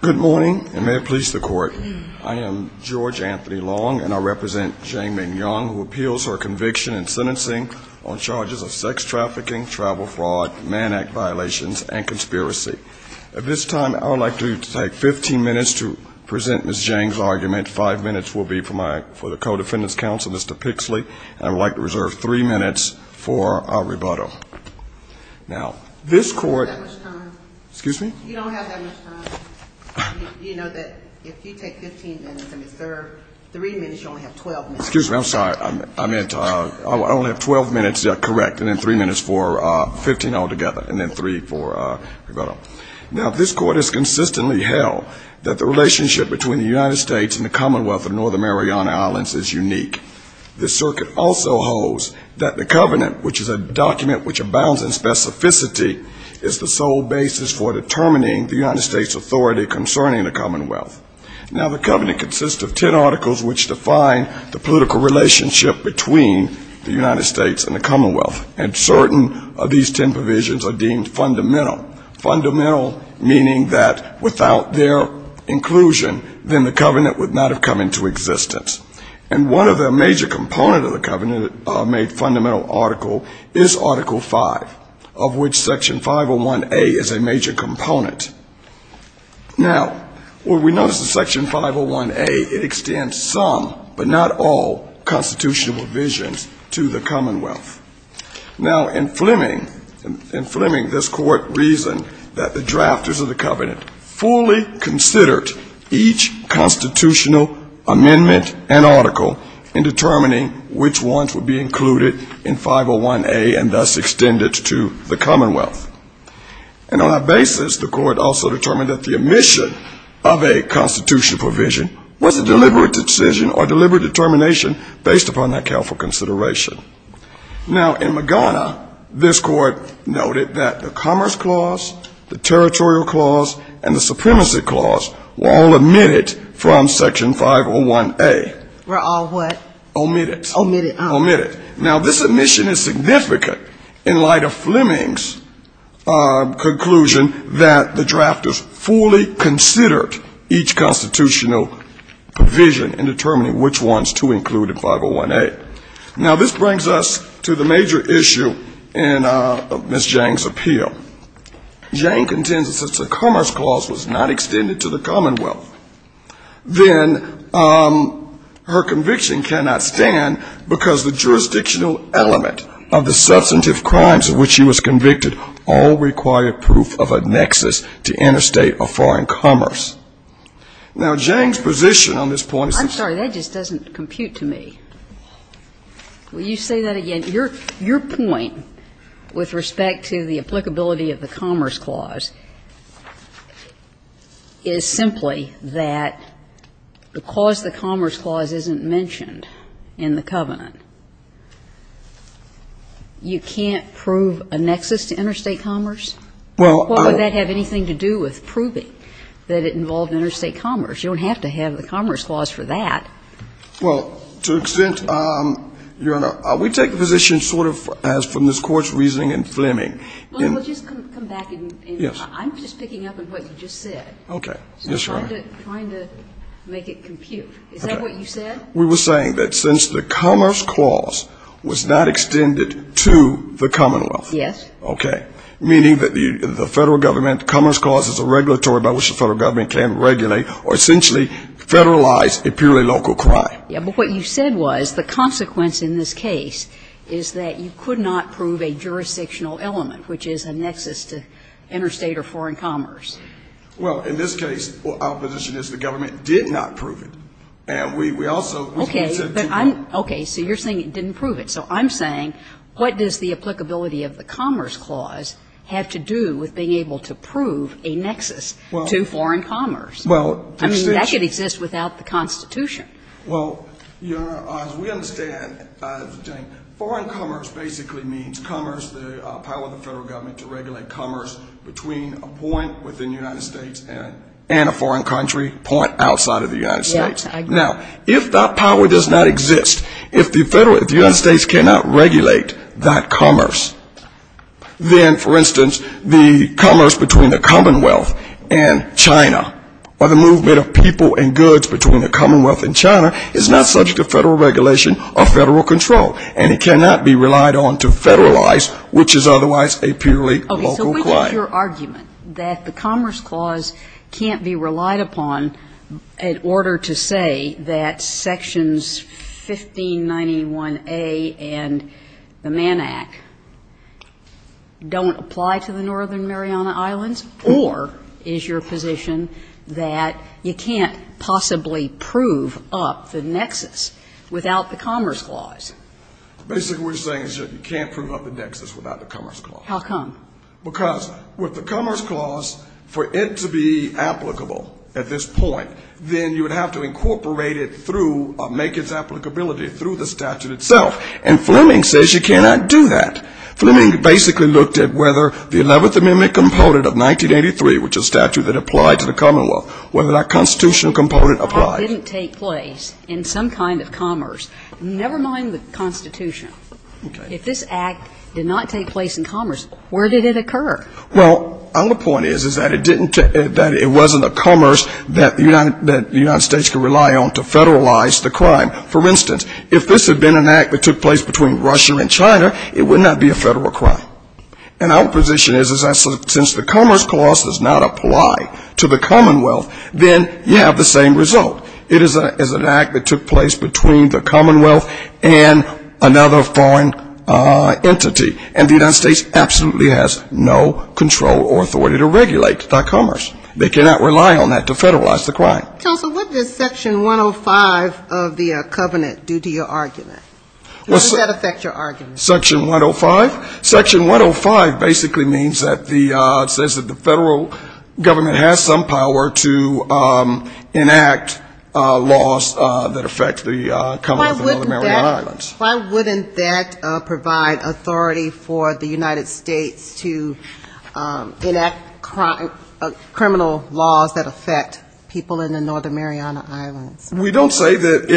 Good morning, and may it please the court. I am George Anthony Long, and I represent Zhang Ming Yang, who appeals her conviction in sentencing on charges of sex trafficking, travel fraud, Man Act violations, and conspiracy. At this time, I would like to take 15 minutes to present Ms. Zhang's argument. Five minutes will be for the co-defendant's counsel, Mr. Pixley, and I would like to reserve three minutes for our rebuttal. Now, this court. You don't have that much time. Excuse me? You don't have that much time. You know that if you take 15 minutes and reserve three minutes, you only have 12 minutes. Excuse me, I'm sorry. I meant I only have 12 minutes correct, and then three minutes for 15 altogether, and then three for rebuttal. Now, this court has consistently held that the relationship between the United States and the Commonwealth of Northern Mariana Islands is unique. The circuit also holds that the covenant, which is a document which abounds in specificity, is the sole basis for determining the United States authority concerning the Commonwealth. Now, the covenant consists of 10 articles which define the political relationship between the United States and the Commonwealth. And certain of these 10 provisions are deemed fundamental. Fundamental meaning that without their inclusion, then the covenant would not have come into existence. And one of the major components of the covenant made fundamental article is Article 5, of which Section 501A is a major component. Now, when we notice the Section 501A, it extends some, but not all, constitutional provisions to the Commonwealth. Now, in Fleming, this court reasoned that the drafters of the covenant fully considered each constitutional amendment and article in determining which ones would be included in 501A and thus extended to the Commonwealth. And on that basis, the court also determined that the omission of a constitutional provision was a deliberate decision or deliberate determination based upon that careful consideration. Now, in Magana, this court noted that the Commerce Clause, the Territorial Clause, and the Supremacy Clause were all omitted from Section 501A. Were all what? Omitted. Omitted. Omitted. Now, this omission is significant in light of Fleming's conclusion that the drafters fully considered each constitutional provision in determining which ones to include in 501A. Now, this brings us to the major issue in Ms. Jang's appeal. Jang contends that since the Commerce Clause was not extended to the Commonwealth, then her conviction cannot stand because the jurisdictional element of the substantive crimes of which she was convicted all required proof of a nexus to interstate or foreign commerce. Now, Jang's position on this point is that I'm sorry, that just doesn't compute to me. Will you say that again? Your point with respect to the applicability of the Commerce Clause is simply that because the Commerce Clause isn't mentioned in the Covenant, you can't prove a nexus to interstate commerce? Well, I don't What would that have anything to do with proving that it involved interstate commerce? You don't have to have the Commerce Clause for that. Well, to an extent, Your Honor, we take the position sort of as from this Court's reasoning in Fleming. Well, just come back and I'm just picking up on what you just said. Okay. Yes, Your Honor. I'm trying to make it compute. Is that what you said? We were saying that since the Commerce Clause was not extended to the Commonwealth. Yes. Okay. Meaning that the Federal Government, the Commerce Clause is a regulatory by which the Federal Government can regulate or essentially federalize a purely local crime. Yes. But what you said was the consequence in this case is that you could not prove a jurisdictional element, which is a nexus to interstate or foreign commerce. Well, in this case, our position is the government did not prove it. And we also said to them. Okay. So you're saying it didn't prove it. So I'm saying what does the applicability of the Commerce Clause have to do with being able to prove a nexus to foreign commerce? Well, I mean, that could exist without the Constitution. Well, Your Honor, as we understand, foreign commerce basically means commerce, the power of the Federal Government to regulate commerce between a point within the United States and a foreign country point outside of the United States. Now, if that power does not exist, if the United States cannot regulate that commerce, then, for instance, the commerce between the Commonwealth and China or the movement of people and goods between the Commonwealth and China is not subject to federal regulation or federal control. And it cannot be relied on to federalize, which is otherwise a purely local crime. Okay. So what is your argument that the Commerce Clause can't be relied upon in order to say that Sections 1591A and the Mann Act don't apply to the Northern Mariana Islands, or is your position that you can't possibly prove up the nexus without the Commerce Clause? Basically, what we're saying is that you can't prove up the nexus without the Commerce Clause. How come? Because with the Commerce Clause, for it to be applicable at this point, then you would have to incorporate it through or make its applicability through the statute itself. And Fleming says you cannot do that. Fleming basically looked at whether the 11th Amendment component of 1983, which is a statute that applied to the Commonwealth, whether that constitutional component applied. If the Act didn't take place in some kind of commerce, never mind the Constitution, if this Act did not take place in commerce, where did it occur? Well, our point is that it wasn't a commerce that the United States could rely on to federalize the crime. For instance, if this had been an Act that took place between Russia and China, it would not be a federal crime. And our position is that since the Commerce Clause does not apply to the Commonwealth, then you have the same result. It is an Act that took place between the Commonwealth and another foreign entity. And the United States absolutely has no control or authority to regulate that commerce. They cannot rely on that to federalize the crime. Counsel, what does Section 105 of the Covenant do to your argument? How does that affect your argument? Section 105? Section 105 basically means that the, says that the federal government has some power to enact laws that affect the Commonwealth of Northern Maryland Islands. Why wouldn't that provide authority for the United States to enact criminal laws that affect people in the Northern Mariana Islands? We don't say that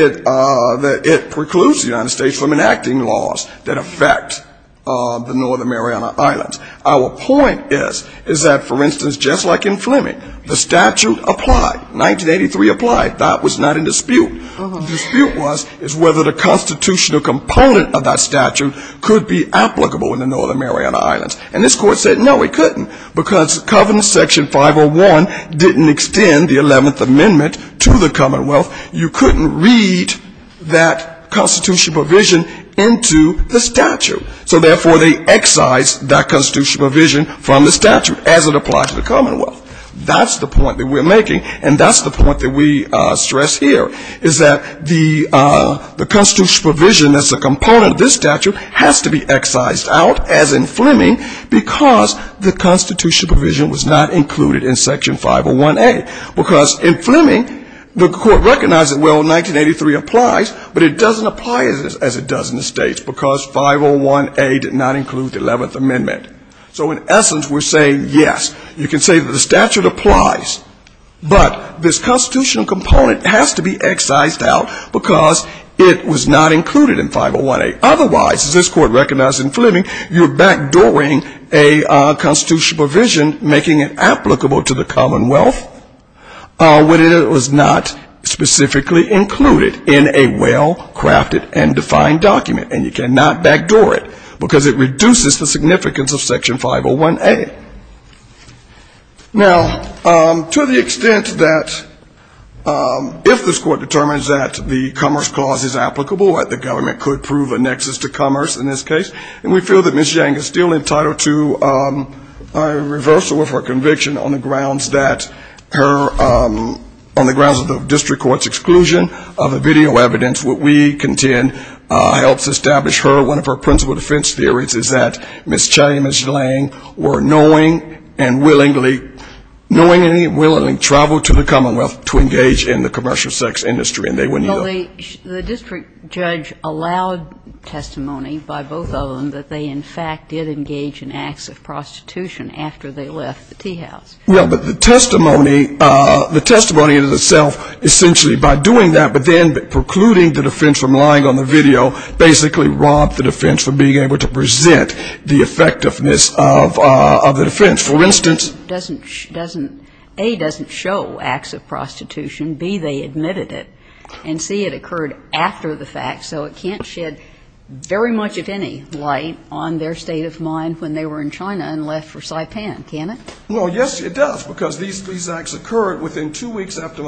it precludes the United States from enacting laws that affect the Northern Mariana Islands. Our point is that, for instance, just like in Fleming, the statute applied, 1983 applied, that was not in dispute. Dispute was, is whether the constitutional component of that statute could be applicable in the Northern Mariana Islands. And this Court said no, it couldn't, because Covenant Section 501 didn't extend the 11th Amendment to the Commonwealth. You couldn't read that constitutional provision into the statute. So therefore, they excise that constitutional provision from the statute as it applies to the Commonwealth. That's the point that we're making. And that's the point that we stress here, is that the constitutional provision as a component of this statute has to be excised out, as in Fleming, because the constitutional provision was not included in Section 501A. Because in Fleming, the Court recognized that, well, 1983 applies, but it doesn't apply as it does in the States, because 501A did not include the 11th Amendment. So in essence, we're saying, yes, you can say that the statute applies, but this constitutional component has to be excised out, because it was not included in 501A. Otherwise, as this Court recognized in Fleming, you're backdooring a constitutional provision, making it applicable to the Commonwealth, when it was not specifically included in a well-crafted and defined document. And you cannot backdoor it, because it reduces the significance of Section 501A. Now, to the extent that if this Court determines that the Commerce Clause is applicable, that the government could prove a nexus to commerce in this case, and we feel that Ms. Yang is still entitled to a reversal of her conviction on the grounds that her, on the grounds of the district court's exclusion of the video evidence, what we contend helps establish her, one of her principal defense theories is that Ms. Chang and Ms. Yang were knowingly and willingly, knowingly and willingly traveled to the Commonwealth to engage in the commercial sex industry, and they wouldn't yield. The district judge allowed testimony by both of them that they, in fact, did engage in acts of prostitution after they left the teahouse. Well, but the testimony, the testimony in itself, essentially by doing that, but then precluding the defense from lying on the video, basically robbed the defense from being able to present the effectiveness of the defense. For instance. A, doesn't show acts of prostitution. B, they admitted it. And C, it occurred after the fact, so it can't shed very much, if any, light on their state of mind when they were in China and left for Saipan, can it? Well, yes, it does, because these acts occurred within two weeks after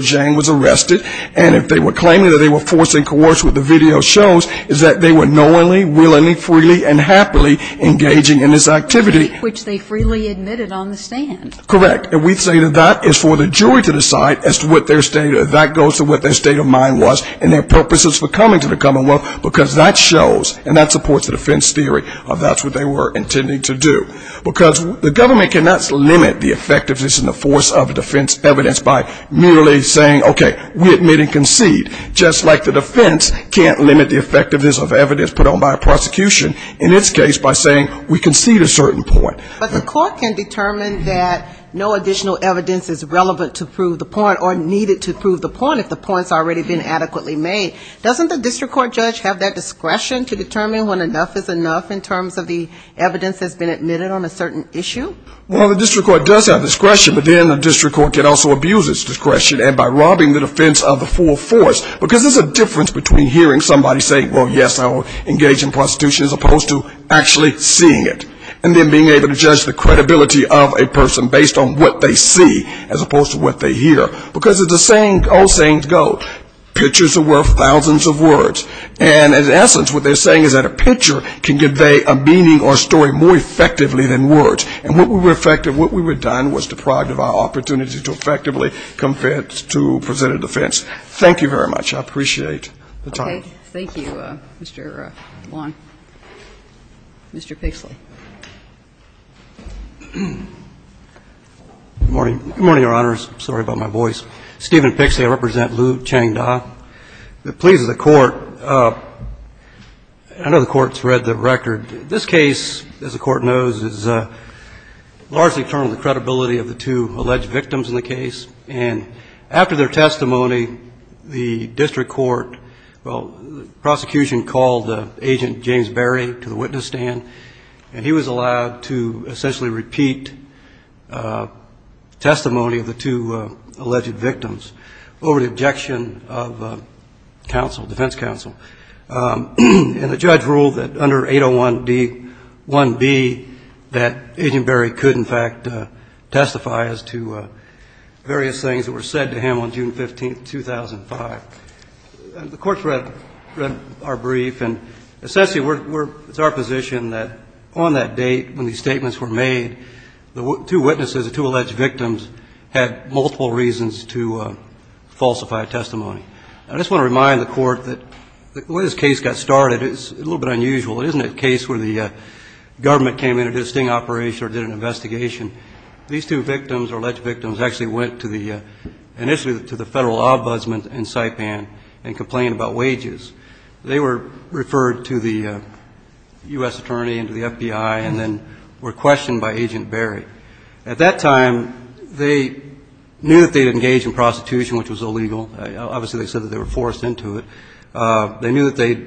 Yang was arrested, and if they were claiming that they were forced and coerced with the video shows, it's that they were knowingly, willingly, freely and happily engaging in this activity. Which they freely admitted on the stand. Correct. And we say that that is for the jury to decide as to what their state of mind was and their purposes for coming to the Commonwealth, because that shows, and that supports the defense theory of that's what they were intending to do. Because the government cannot limit the effectiveness and the force of defense evidence by merely saying, okay, we admit and concede. Just like the defense can't limit the effectiveness of evidence put on by a prosecution, in its case, by saying, we concede a certain point. But the court can determine that no additional evidence is relevant to prove the point or needed to prove the point, if the point's already been adequately made. Doesn't the district court judge have that discretion to determine when enough is enough, in terms of the evidence that's been admitted on a certain issue? Well, the district court does have discretion, but then the district court can also abuse its discretion and by robbing the defense of the full force, because there's a difference between hearing somebody say, well, yes, I will engage in prostitution, as opposed to actually seeing it. And then being able to judge the credibility of a person based on what they see, as opposed to what they hear. Because it's a saying, old saying go, pictures are worth thousands of words. And in essence, what they're saying is that a picture can convey a meaning or story more effectively than words. And what we were effective, what we were done was deprived of our opportunity to effectively present a defense. Thank you very much. I appreciate the time. Okay. Thank you, Mr. Long. Mr. Pixley. Good morning. Good morning, Your Honors. I'm sorry about my voice. Steven Pixley. I represent Liu Changda. It pleases the Court. I know the Court's read the record. This case, as the Court knows, is largely determined by the credibility of the two alleged victims in the case. And after their testimony, the district court, well, the prosecution called Agent James Berry to the witness stand, and he was allowed to essentially repeat testimony of the two alleged victims over the objection of counsel, defense counsel. And the judge ruled that under 801D-1B, that Agent Berry could, in fact, testify as to various things that were said to him on June 15, 2005. The Court's read our brief, and essentially it's our position that on that date when these statements were made, the two witnesses, the two alleged victims, had multiple reasons to falsify testimony. I just want to remind the Court that the way this case got started is a little bit unusual. It isn't a case where the government came in and did a sting operation or did an investigation. These two victims, or alleged victims, actually went to the, initially to the federal ombudsman in Saipan and complained about wages. They were referred to the U.S. attorney and to the FBI and then were questioned by Agent Berry. At that time, they knew that they had engaged in prostitution, which was illegal. Obviously, they said that they were forced into it. They knew that they'd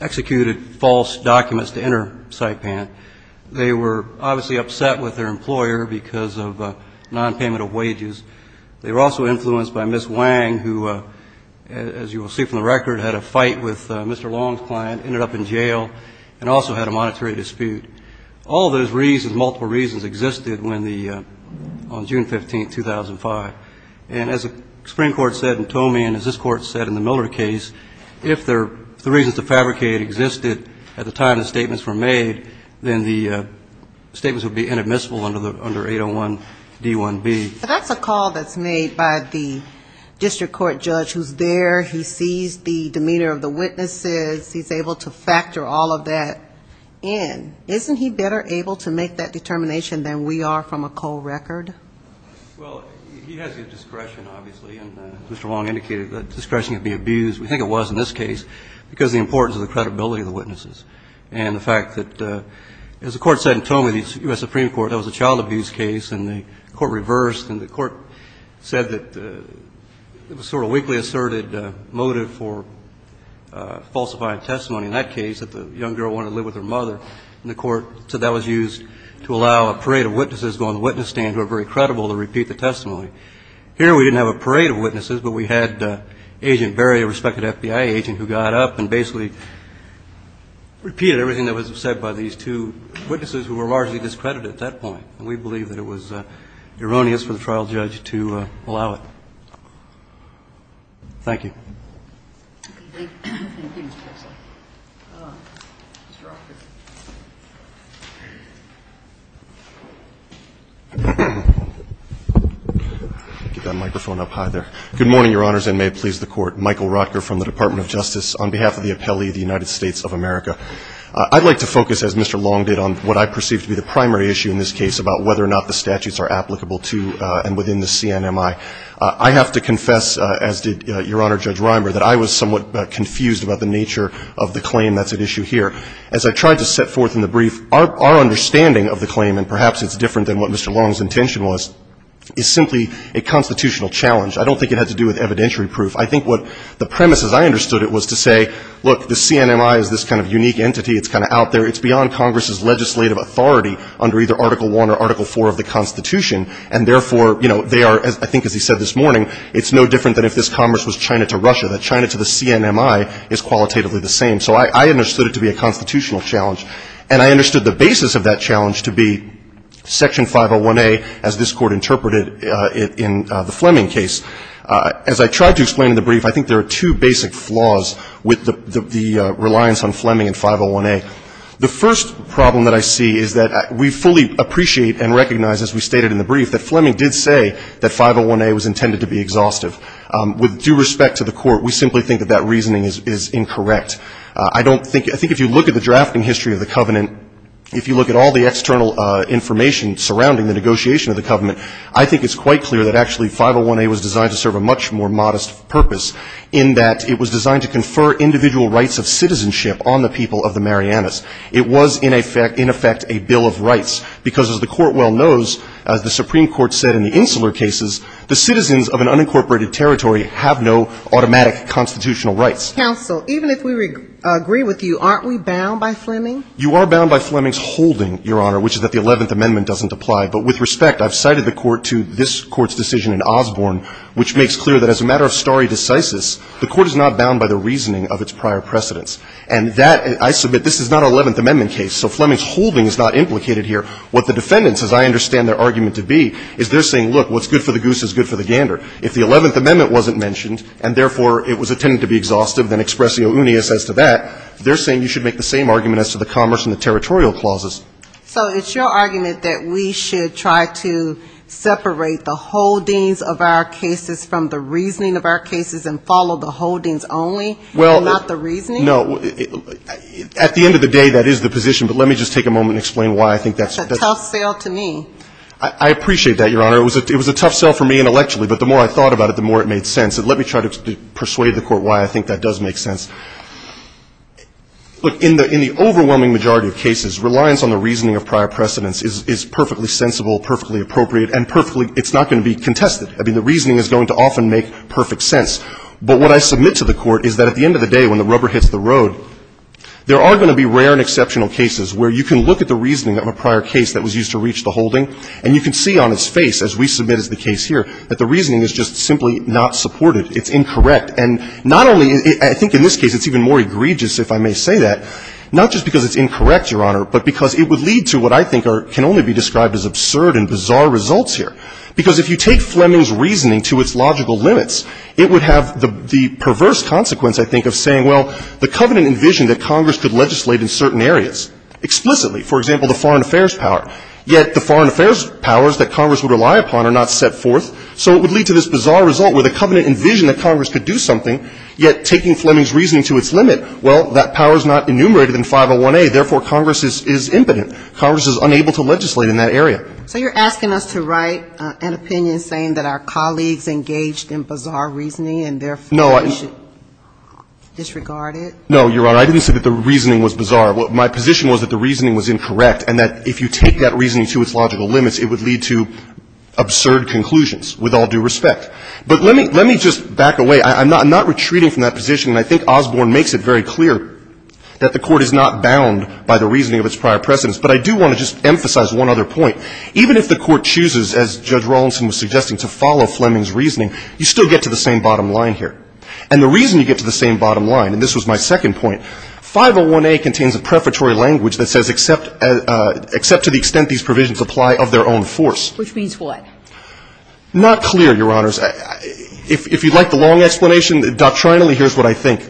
executed false documents to enter Saipan. They were obviously upset with their employer because of nonpayment of wages. They were also influenced by Ms. Wang, who, as you will see from the record, had a fight with Mr. Long's client, ended up in jail, and also had a monetary dispute. All those reasons, multiple reasons, existed when the, on June 15, 2005. And as the Supreme Court said in Toomey and as this Court said in the Miller case, if the reasons to fabricate existed at the time the statements were made, then the statements would be inadmissible under 801D1B. But that's a call that's made by the district court judge who's there. He sees the demeanor of the witnesses. He's able to factor all of that in. Isn't he better able to make that determination than we are from a cold record? Well, he has good discretion, obviously. And Mr. Long indicated that discretion could be abused. We think it was in this case because of the importance of the credibility of the witnesses and the fact that, as the Court said in Toomey, the U.S. Supreme Court, that was a child abuse case, and the Court reversed, and the Court said that it was sort of a weakly asserted motive for falsifying testimony. In that case, that the young girl wanted to live with her mother, and the Court said that was used to allow a parade of witnesses to go on the witness stand who are very credible to repeat the testimony. Here, we didn't have a parade of witnesses, but we had Agent Berry, a respected FBI agent who got up and basically repeated everything that was said by these two witnesses who were largely discredited at that point. And we believe that it was erroneous for the trial judge to allow it. Thank you. Get that microphone up high there. Good morning, Your Honors, and may it please the Court. Michael Rotker from the Department of Justice on behalf of the Appellee of the United States of America. I'd like to focus, as Mr. Long did, on what I perceive to be the primary issue in this case about whether or not the statutes are applicable to and within the CNMI. I have to confess, as did Your Honor Judge Reimer, that I was somewhat confused about the nature of the claim that's at issue here. As I tried to set forth in the brief, our understanding of the claim, and perhaps it's different than what Mr. Long's intention was, is simply a constitutional challenge. I don't think it had to do with evidentiary proof. I think what the premise, as I understood it, was to say, look, the CNMI is this kind of unique entity. It's kind of out there. It's beyond Congress's legislative authority under either Article I or Article IV of the Constitution. As he said this morning, it's no different than if this Congress was China to Russia, that China to the CNMI is qualitatively the same. So I understood it to be a constitutional challenge. And I understood the basis of that challenge to be Section 501A, as this Court interpreted it in the Fleming case. As I tried to explain in the brief, I think there are two basic flaws with the reliance on Fleming in 501A. The first problem that I see is that we fully appreciate and recognize, as we stated in the brief, that Fleming did say that 501A was intended to be exhaustive. With due respect to the Court, we simply think that that reasoning is incorrect. I don't think, I think if you look at the drafting history of the covenant, if you look at all the external information surrounding the negotiation of the covenant, I think it's quite clear that actually 501A was designed to serve a much more modest purpose, in that it was designed to confer individual rights of citizenship on the people of the Marianas. It was in effect a bill of rights, because as the Court well knows, as the Supreme Court said in the Insular cases, the citizens of an unincorporated territory have no automatic constitutional rights. Counsel, even if we agree with you, aren't we bound by Fleming? You are bound by Fleming's holding, Your Honor, which is that the Eleventh Amendment doesn't apply. But with respect, I've cited the Court to this Court's decision in Osborne, which makes clear that as a matter of stare decisis, the Court is not bound by the reasoning of its prior precedents. And that, I submit, this is not an Eleventh Amendment case, so Fleming's holding is not implicated here. What the defendants, as I understand their argument to be, is they're saying, look, what's good for the goose is good for the gander. If the Eleventh Amendment wasn't mentioned, and therefore it was intended to be exhaustive, then expressio unius as to that, they're saying you should make the same argument as to the commerce and the territorial clauses. So it's your argument that we should try to separate the holdings of our cases from the reasoning of our cases and follow the holdings only, and not the reasoning? No. At the end of the day, that is the position. But let me just take a moment and explain why I think that's the case. That's a tough sell to me. I appreciate that, Your Honor. It was a tough sell for me intellectually. But the more I thought about it, the more it made sense. And let me try to persuade the Court why I think that does make sense. Look, in the overwhelming majority of cases, reliance on the reasoning of prior precedents is perfectly sensible, perfectly appropriate, and perfectly – it's not going to be contested. I mean, the reasoning is going to often make perfect sense. But what I submit to the Court is that at the end of the day, when the rubber hits the road, there are going to be rare and exceptional cases where you can look at the reasoning of a prior case that was used to reach the holding, and you can see on its face, as we submit as the case here, that the reasoning is just simply not supported. It's incorrect. And not only – I think in this case it's even more egregious, if I may say that, not just because it's incorrect, Your Honor, but because it would lead to what I think are – can only be described as absurd and bizarre results here. Because if you take Fleming's reasoning to its logical limits, it would have the perverse consequence, I think, of saying, well, the Covenant envisioned that Congress could legislate in certain areas explicitly. For example, the foreign affairs power. Yet the foreign affairs powers that Congress would rely upon are not set forth, so it would lead to this bizarre result where the Covenant envisioned that Congress could do something, yet taking Fleming's reasoning to its limit, well, that power is not enumerated in 501A, therefore Congress is impotent. Congress is unable to legislate in that area. So you're asking us to write an opinion saying that our colleagues engaged in bizarre reasoning and therefore we should disregard it? No, Your Honor. I didn't say that the reasoning was bizarre. My position was that the reasoning was incorrect and that if you take that reasoning to its logical limits, it would lead to absurd conclusions, with all due respect. But let me just back away. I'm not retreating from that position, and I think Osborne makes it very clear that the Court is not bound by the reasoning of its prior precedents. But I do want to just emphasize one other point. Even if the Court chooses, as Judge Rawlinson was suggesting, to follow Fleming's reasoning, you still get to the same bottom line here. And the reason you get to the same bottom line, and this was my second point, 501A contains a prefatory language that says except to the extent these provisions apply of their own force. Which means what? Not clear, Your Honors. If you'd like the long explanation, doctrinally here's what I think.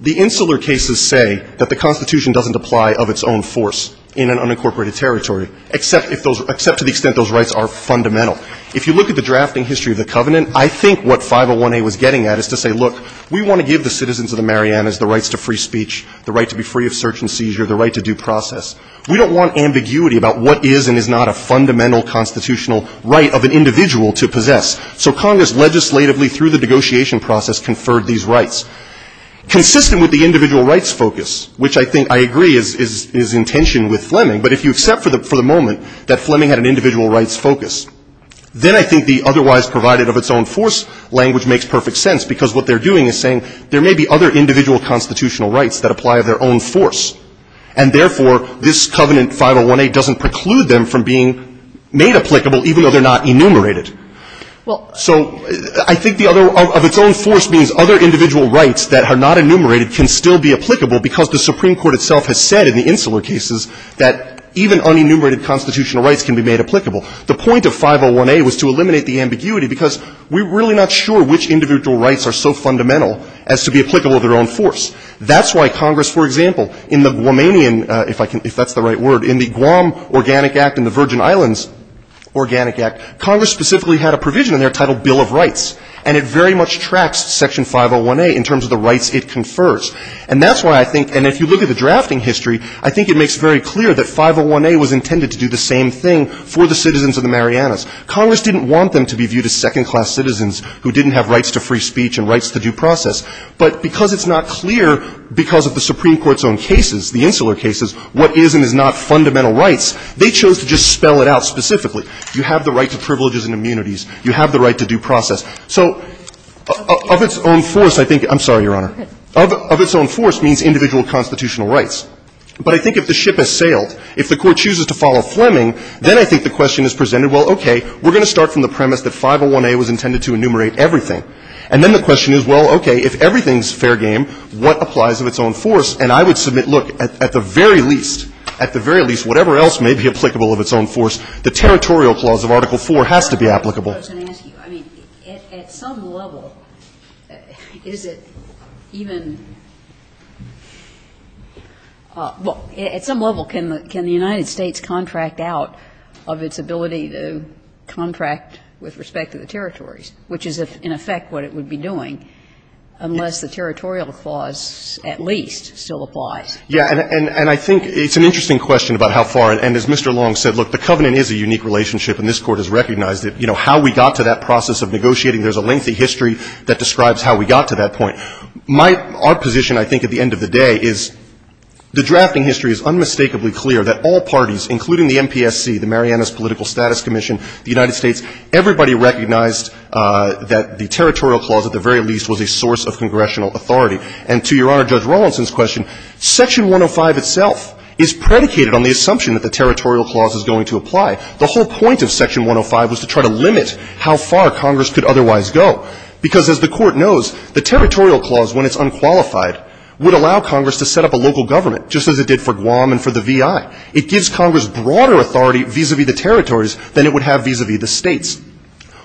The Insular cases say that the Constitution doesn't apply of its own force in an unincorporated territory, except to the extent those rights are fundamental. If you look at the drafting history of the Covenant, I think what 501A was getting at is to say, look, we want to give the citizens of the Marianas the rights to free speech, the right to be free of search and seizure, the right to due process. We don't want ambiguity about what is and is not a fundamental constitutional right of an individual to possess. So Congress legislatively through the negotiation process conferred these rights. Consistent with the individual rights focus, which I think I agree is in tension with Fleming, but if you accept for the moment that Fleming had an individual rights focus, then I think the otherwise provided of its own force language makes perfect sense. Because what they're doing is saying there may be other individual constitutional rights that apply of their own force. And therefore, this Covenant 501A doesn't preclude them from being made applicable even though they're not enumerated. So I think the other of its own force means other individual rights that are not enumerated can still be applicable because the Supreme Court itself has said in the Insular cases that even unenumerated constitutional rights can be made applicable. The point of 501A was to eliminate the ambiguity because we're really not sure which individual rights are so fundamental as to be applicable of their own force. That's why Congress, for example, in the Guamanian, if that's the right word, in the Guam Organic Act and the Virgin Islands Organic Act, Congress specifically had a provision in there titled Bill of Rights, and it very much tracks Section 501A in terms of the rights it confers. And that's why I think, and if you look at the drafting history, I think it makes very clear that 501A was intended to do the same thing for the citizens of the Marianas. Congress didn't want them to be viewed as second-class citizens who didn't have rights to free speech and rights to due process. But because it's not clear because of the Supreme Court's own cases, the Insular cases, what is and is not fundamental rights, they chose to just spell it out specifically. You have the right to privileges and immunities. You have the right to due process. So of its own force, I think — I'm sorry, Your Honor. Of its own force means individual constitutional rights. But I think if the ship has sailed, if the Court chooses to follow Fleming, then I think the question is presented, well, okay, we're going to start from the premise that 501A was intended to enumerate everything. And then the question is, well, okay, if everything's fair game, what applies of its own force? And I would submit, look, at the very least, at the very least, whatever else may be I mean, I don't think that the territorial clause of Article IV has to be applicable. I mean, at some level, is it even — well, at some level, can the United States contract out of its ability to contract with respect to the territories, which is, in effect, what it would be doing, unless the territorial clause at least still applies? Yeah. And I think it's an interesting question about how far — and as Mr. Long said, look, the covenant is a unique relationship, and this Court has recognized it. You know, how we got to that process of negotiating, there's a lengthy history that describes how we got to that point. My — our position, I think, at the end of the day is the drafting history is unmistakably clear that all parties, including the MPSC, the Marianas Political Status Commission, the United States, everybody recognized that the territorial clause, at the very least, was a source of congressional authority. And to Your Honor Judge Rawlinson's question, Section 105 itself is predicated on the assumption that the territorial clause is going to apply. The whole point of Section 105 was to try to limit how far Congress could otherwise go, because as the Court knows, the territorial clause, when it's unqualified, would allow Congress to set up a local government, just as it did for Guam and for the VI. It gives Congress broader authority vis-à-vis the territories than it would have vis-à-vis the states.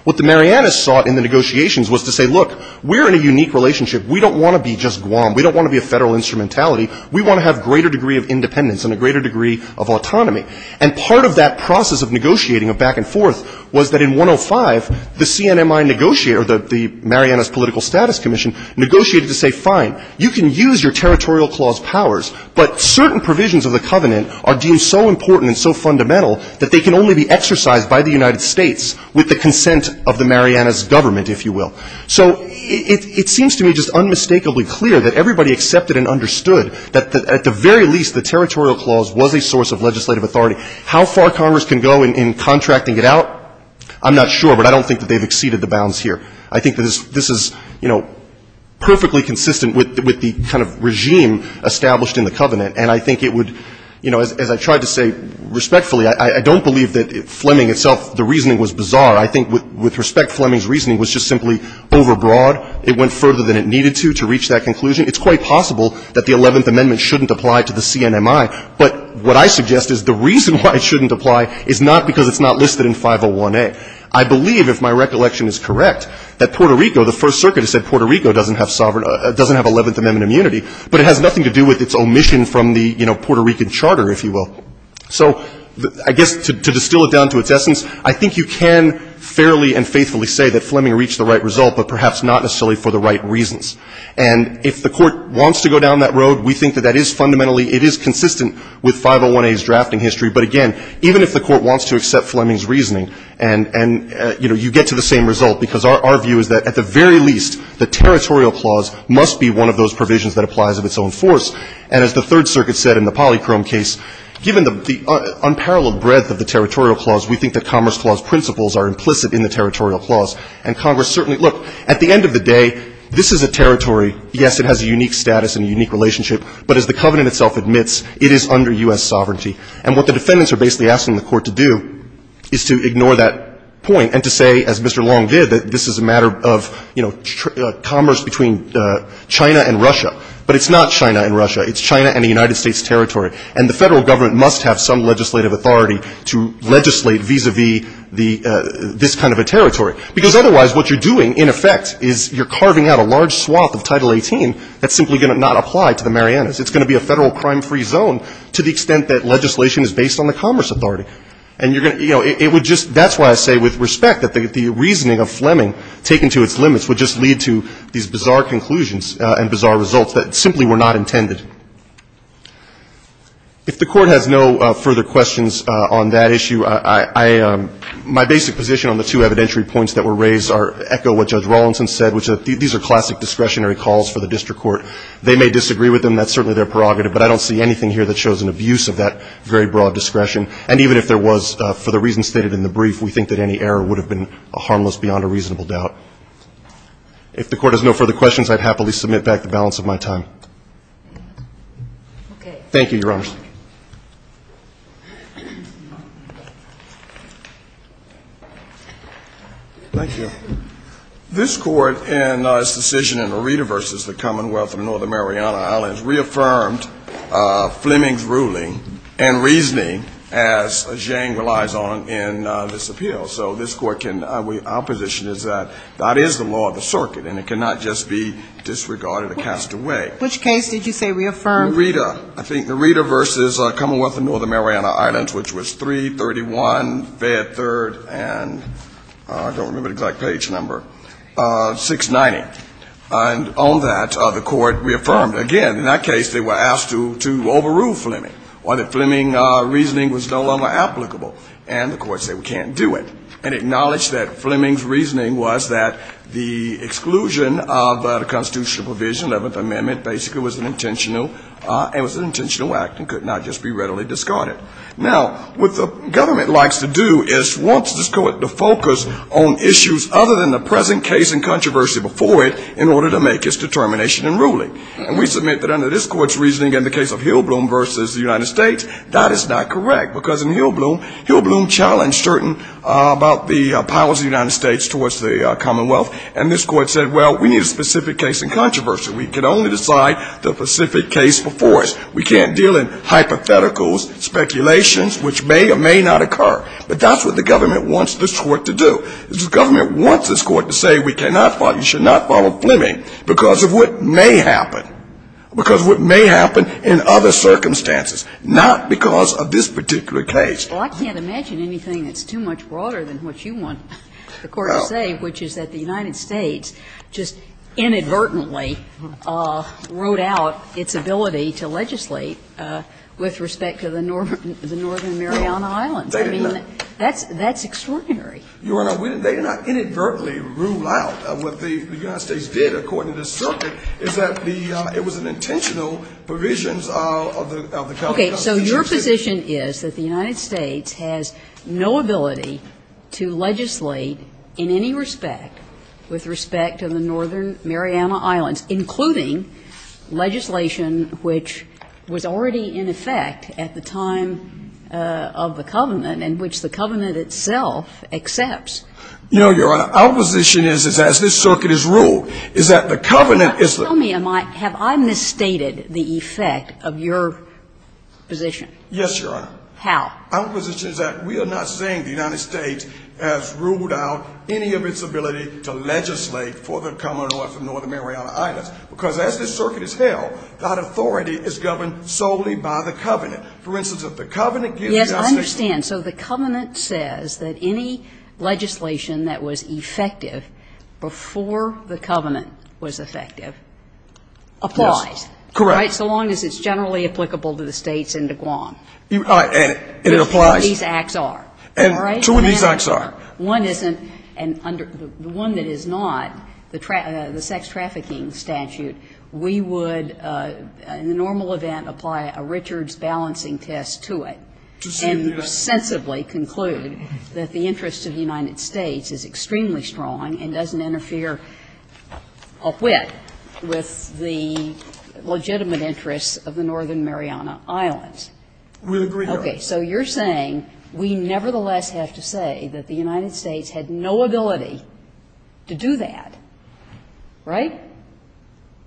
What the Marianas sought in the negotiations was to say, look, we're in a unique relationship. We don't want to be just Guam. We don't want to be a federal instrumentality. We want to have greater degree of independence and a greater degree of autonomy. And part of that process of negotiating, of back and forth, was that in 105, the CNMI negotiator, the Marianas Political Status Commission, negotiated to say, fine, you can use your territorial clause powers, but certain provisions of the covenant are deemed so important and so fundamental that they can only be exercised by the United States with the consent of the Marianas government, if you will. So it seems to me just unmistakably clear that everybody accepted and understood that at the very least the territorial clause was a source of legislative authority. How far Congress can go in contracting it out, I'm not sure, but I don't think that they've exceeded the bounds here. I think that this is, you know, perfectly consistent with the kind of regime established in the covenant. And I think it would, you know, as I tried to say respectfully, I don't believe that Fleming itself, the reasoning was bizarre. I think with respect, Fleming's reasoning was just simply overbroad. It went further than it needed to to reach that conclusion. It's quite possible that the Eleventh Amendment shouldn't apply to the CNMI. But what I suggest is the reason why it shouldn't apply is not because it's not listed in 501A. I believe, if my recollection is correct, that Puerto Rico, the First Circuit has said Puerto Rico doesn't have sovereign, doesn't have Eleventh Amendment immunity, but it has nothing to do with its omission from the, you know, Puerto Rican charter, if you will. So I guess to distill it down to its essence, I think you can fairly and faithfully say that Fleming reached the right result, but perhaps not necessarily for the right reasons. And if the Court wants to go down that road, we think that that is fundamentally — it is consistent with 501A's drafting history. But again, even if the Court wants to accept Fleming's reasoning and, you know, you get to the same result, because our view is that at the very least, the territorial clause must be one of those provisions that applies of its own force. And as the Third Circuit said in the Polychrome case, given the unparalleled breadth of the territorial clause, we think that Commerce Clause principles are implicit in the territorial clause. And Congress certainly — look, at the end of the day, this is a territory. Yes, it has a unique status and a unique relationship, but as the covenant itself admits, it is under U.S. sovereignty. And what the defendants are basically asking the Court to do is to ignore that point and to say, as Mr. Long did, that this is a matter of, you know, commerce between China and Russia. But it's not China and Russia. It's China and the United States territory. And the Federal Government must have some legislative authority to legislate vis-à-vis this kind of a territory. Because otherwise what you're doing, in effect, is you're carving out a large swath of Title 18 that's simply going to not apply to the Marianas. It's going to be a Federal crime-free zone to the extent that legislation is based on the commerce authority. And you're going to — you know, it would just — that's why I say with respect that the reasoning of Fleming taken to its limits would just lead to these bizarre conclusions and bizarre results that simply were not intended. If the Court has no further questions on that issue, I — my basic position on the two evidentiary points that were raised are — echo what Judge Rawlinson said, which are that these are classic discretionary calls for the district court. They may disagree with them. That's certainly their prerogative. But I don't see anything here that shows an abuse of that very broad discretion. And even if there was, for the reasons stated in the brief, we think that any error would have been harmless beyond a reasonable doubt. If the Court has no further questions, I'd happily submit back the balance of my time. Okay. Thank you, Your Honor. Thank you. This Court, in its decision in Areda v. The Commonwealth of Northern Mariana Islands, reaffirmed Fleming's ruling and reasoning, as Jane relies on in this appeal. So this Court can — our position is that that is the law of the circuit, and it cannot just be disregarded or cast away. Which case did you say reaffirmed? Areda. I think Areda v. The Commonwealth of Northern Mariana Islands, which was 331, Fayette Third, and I don't remember the exact page number, 690. And on that, the Court reaffirmed again. In that case, they were asked to overrule Fleming. Why? That Fleming's reasoning was no longer applicable. And the Court said we can't do it. And acknowledged that Fleming's reasoning was that the exclusion of the constitutional provision, Eleventh Amendment, basically was an intentional act and could not just be readily discarded. Now, what the government likes to do is wants this Court to focus on issues other than the present case and controversy before it in order to make its determination and ruling. And we submit that under this Court's reasoning, in the case of Hillbloom v. The United States, that is not correct. Because in Hillbloom, Hillbloom challenged certain about the powers of the United States towards the Commonwealth. And this Court said, well, we need a specific case in controversy. We can only decide the specific case before us. We can't deal in hypotheticals, speculations, which may or may not occur. But that's what the government wants this Court to do. The government wants this Court to say we cannot follow, you should not follow Fleming because of what may happen, because of what may happen in other circumstances, not because of this particular case. Well, I can't imagine anything that's too much broader than what you want the Court to say, which is that the United States just inadvertently wrote out its ability to legislate with respect to the northern Mariana Islands. They did not. I mean, that's extraordinary. Your Honor, they did not inadvertently rule out. What the United States did, according to the circuit, is that the – it was an intentional provisions of the California Constitution. Okay. So your position is that the United States has no ability to legislate in any respect with respect to the northern Mariana Islands, including legislation which was already in effect at the time of the covenant and which the covenant itself accepts. No, Your Honor. Our position is, as this circuit has ruled, is that the covenant is the – Yes, Your Honor. How? Our position is that we are not saying the United States has ruled out any of its ability to legislate for the Commonwealth of Northern Mariana Islands, because as this circuit is held, that authority is governed solely by the covenant. For instance, if the covenant gives justice to the – Yes, I understand. So the covenant says that any legislation that was effective before the covenant was effective applies. Correct. Right? So long as it's generally applicable to the States and to Guam. All right. And it applies. Which two of these acts are. All right? Two of these acts are. One isn't – the one that is not, the sex trafficking statute, we would, in the normal event, apply a Richards balancing test to it and sensibly conclude that the interest of the United States is extremely strong and doesn't interfere with the legitimacy and common interests of the Northern Mariana Islands. We agree, Your Honor. Okay. So you're saying we nevertheless have to say that the United States had no ability to do that, right?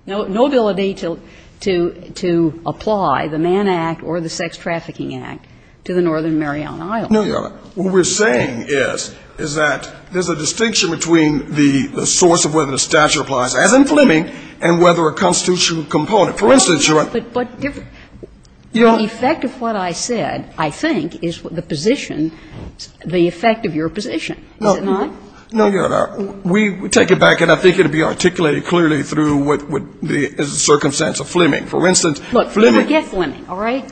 No ability to apply the Mann Act or the Sex Trafficking Act to the Northern Mariana Islands. No, Your Honor. What we're saying is, is that there's a distinction between the source of whether the statute applies, as in Fleming, and whether a constitutional component. For instance, Your Honor. But the effect of what I said, I think, is the position, the effect of your position, is it not? No, Your Honor. We take it back, and I think it would be articulated clearly through the circumstance of Fleming. For instance, Fleming. Look, never forget Fleming, all right?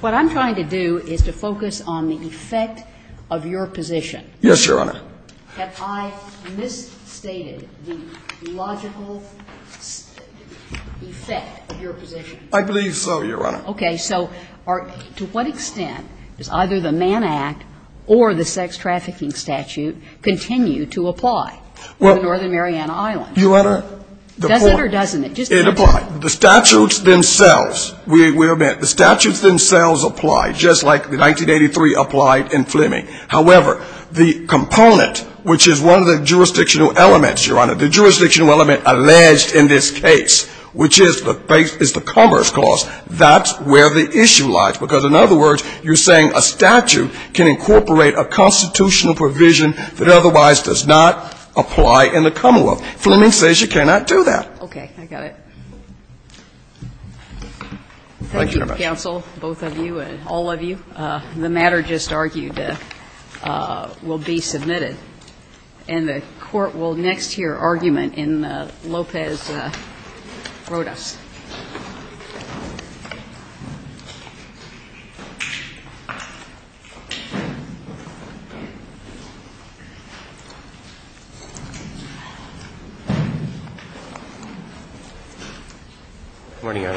What I'm trying to do is to focus on the effect of your position. Yes, Your Honor. Have I misstated the logical effect of your position? I believe so, Your Honor. Okay. So to what extent does either the Mann Act or the Sex Trafficking Statute continue to apply to the Northern Mariana Islands? Well, Your Honor. Does it or doesn't it? It applies. The statutes themselves, the statutes themselves apply, just like the 1983 applied in Fleming. However, the component, which is one of the jurisdictional elements, Your Honor, the jurisdictional element alleged in this case, which is the commerce clause, that's where the issue lies, because, in other words, you're saying a statute can incorporate a constitutional provision that otherwise does not apply in the commonwealth. Fleming says you cannot do that. Okay. I got it. Thank you, counsel, both of you and all of you. The matter just argued will be submitted. And the Court will next hear argument in Lopez-Rodas. Thank you, Your Honor.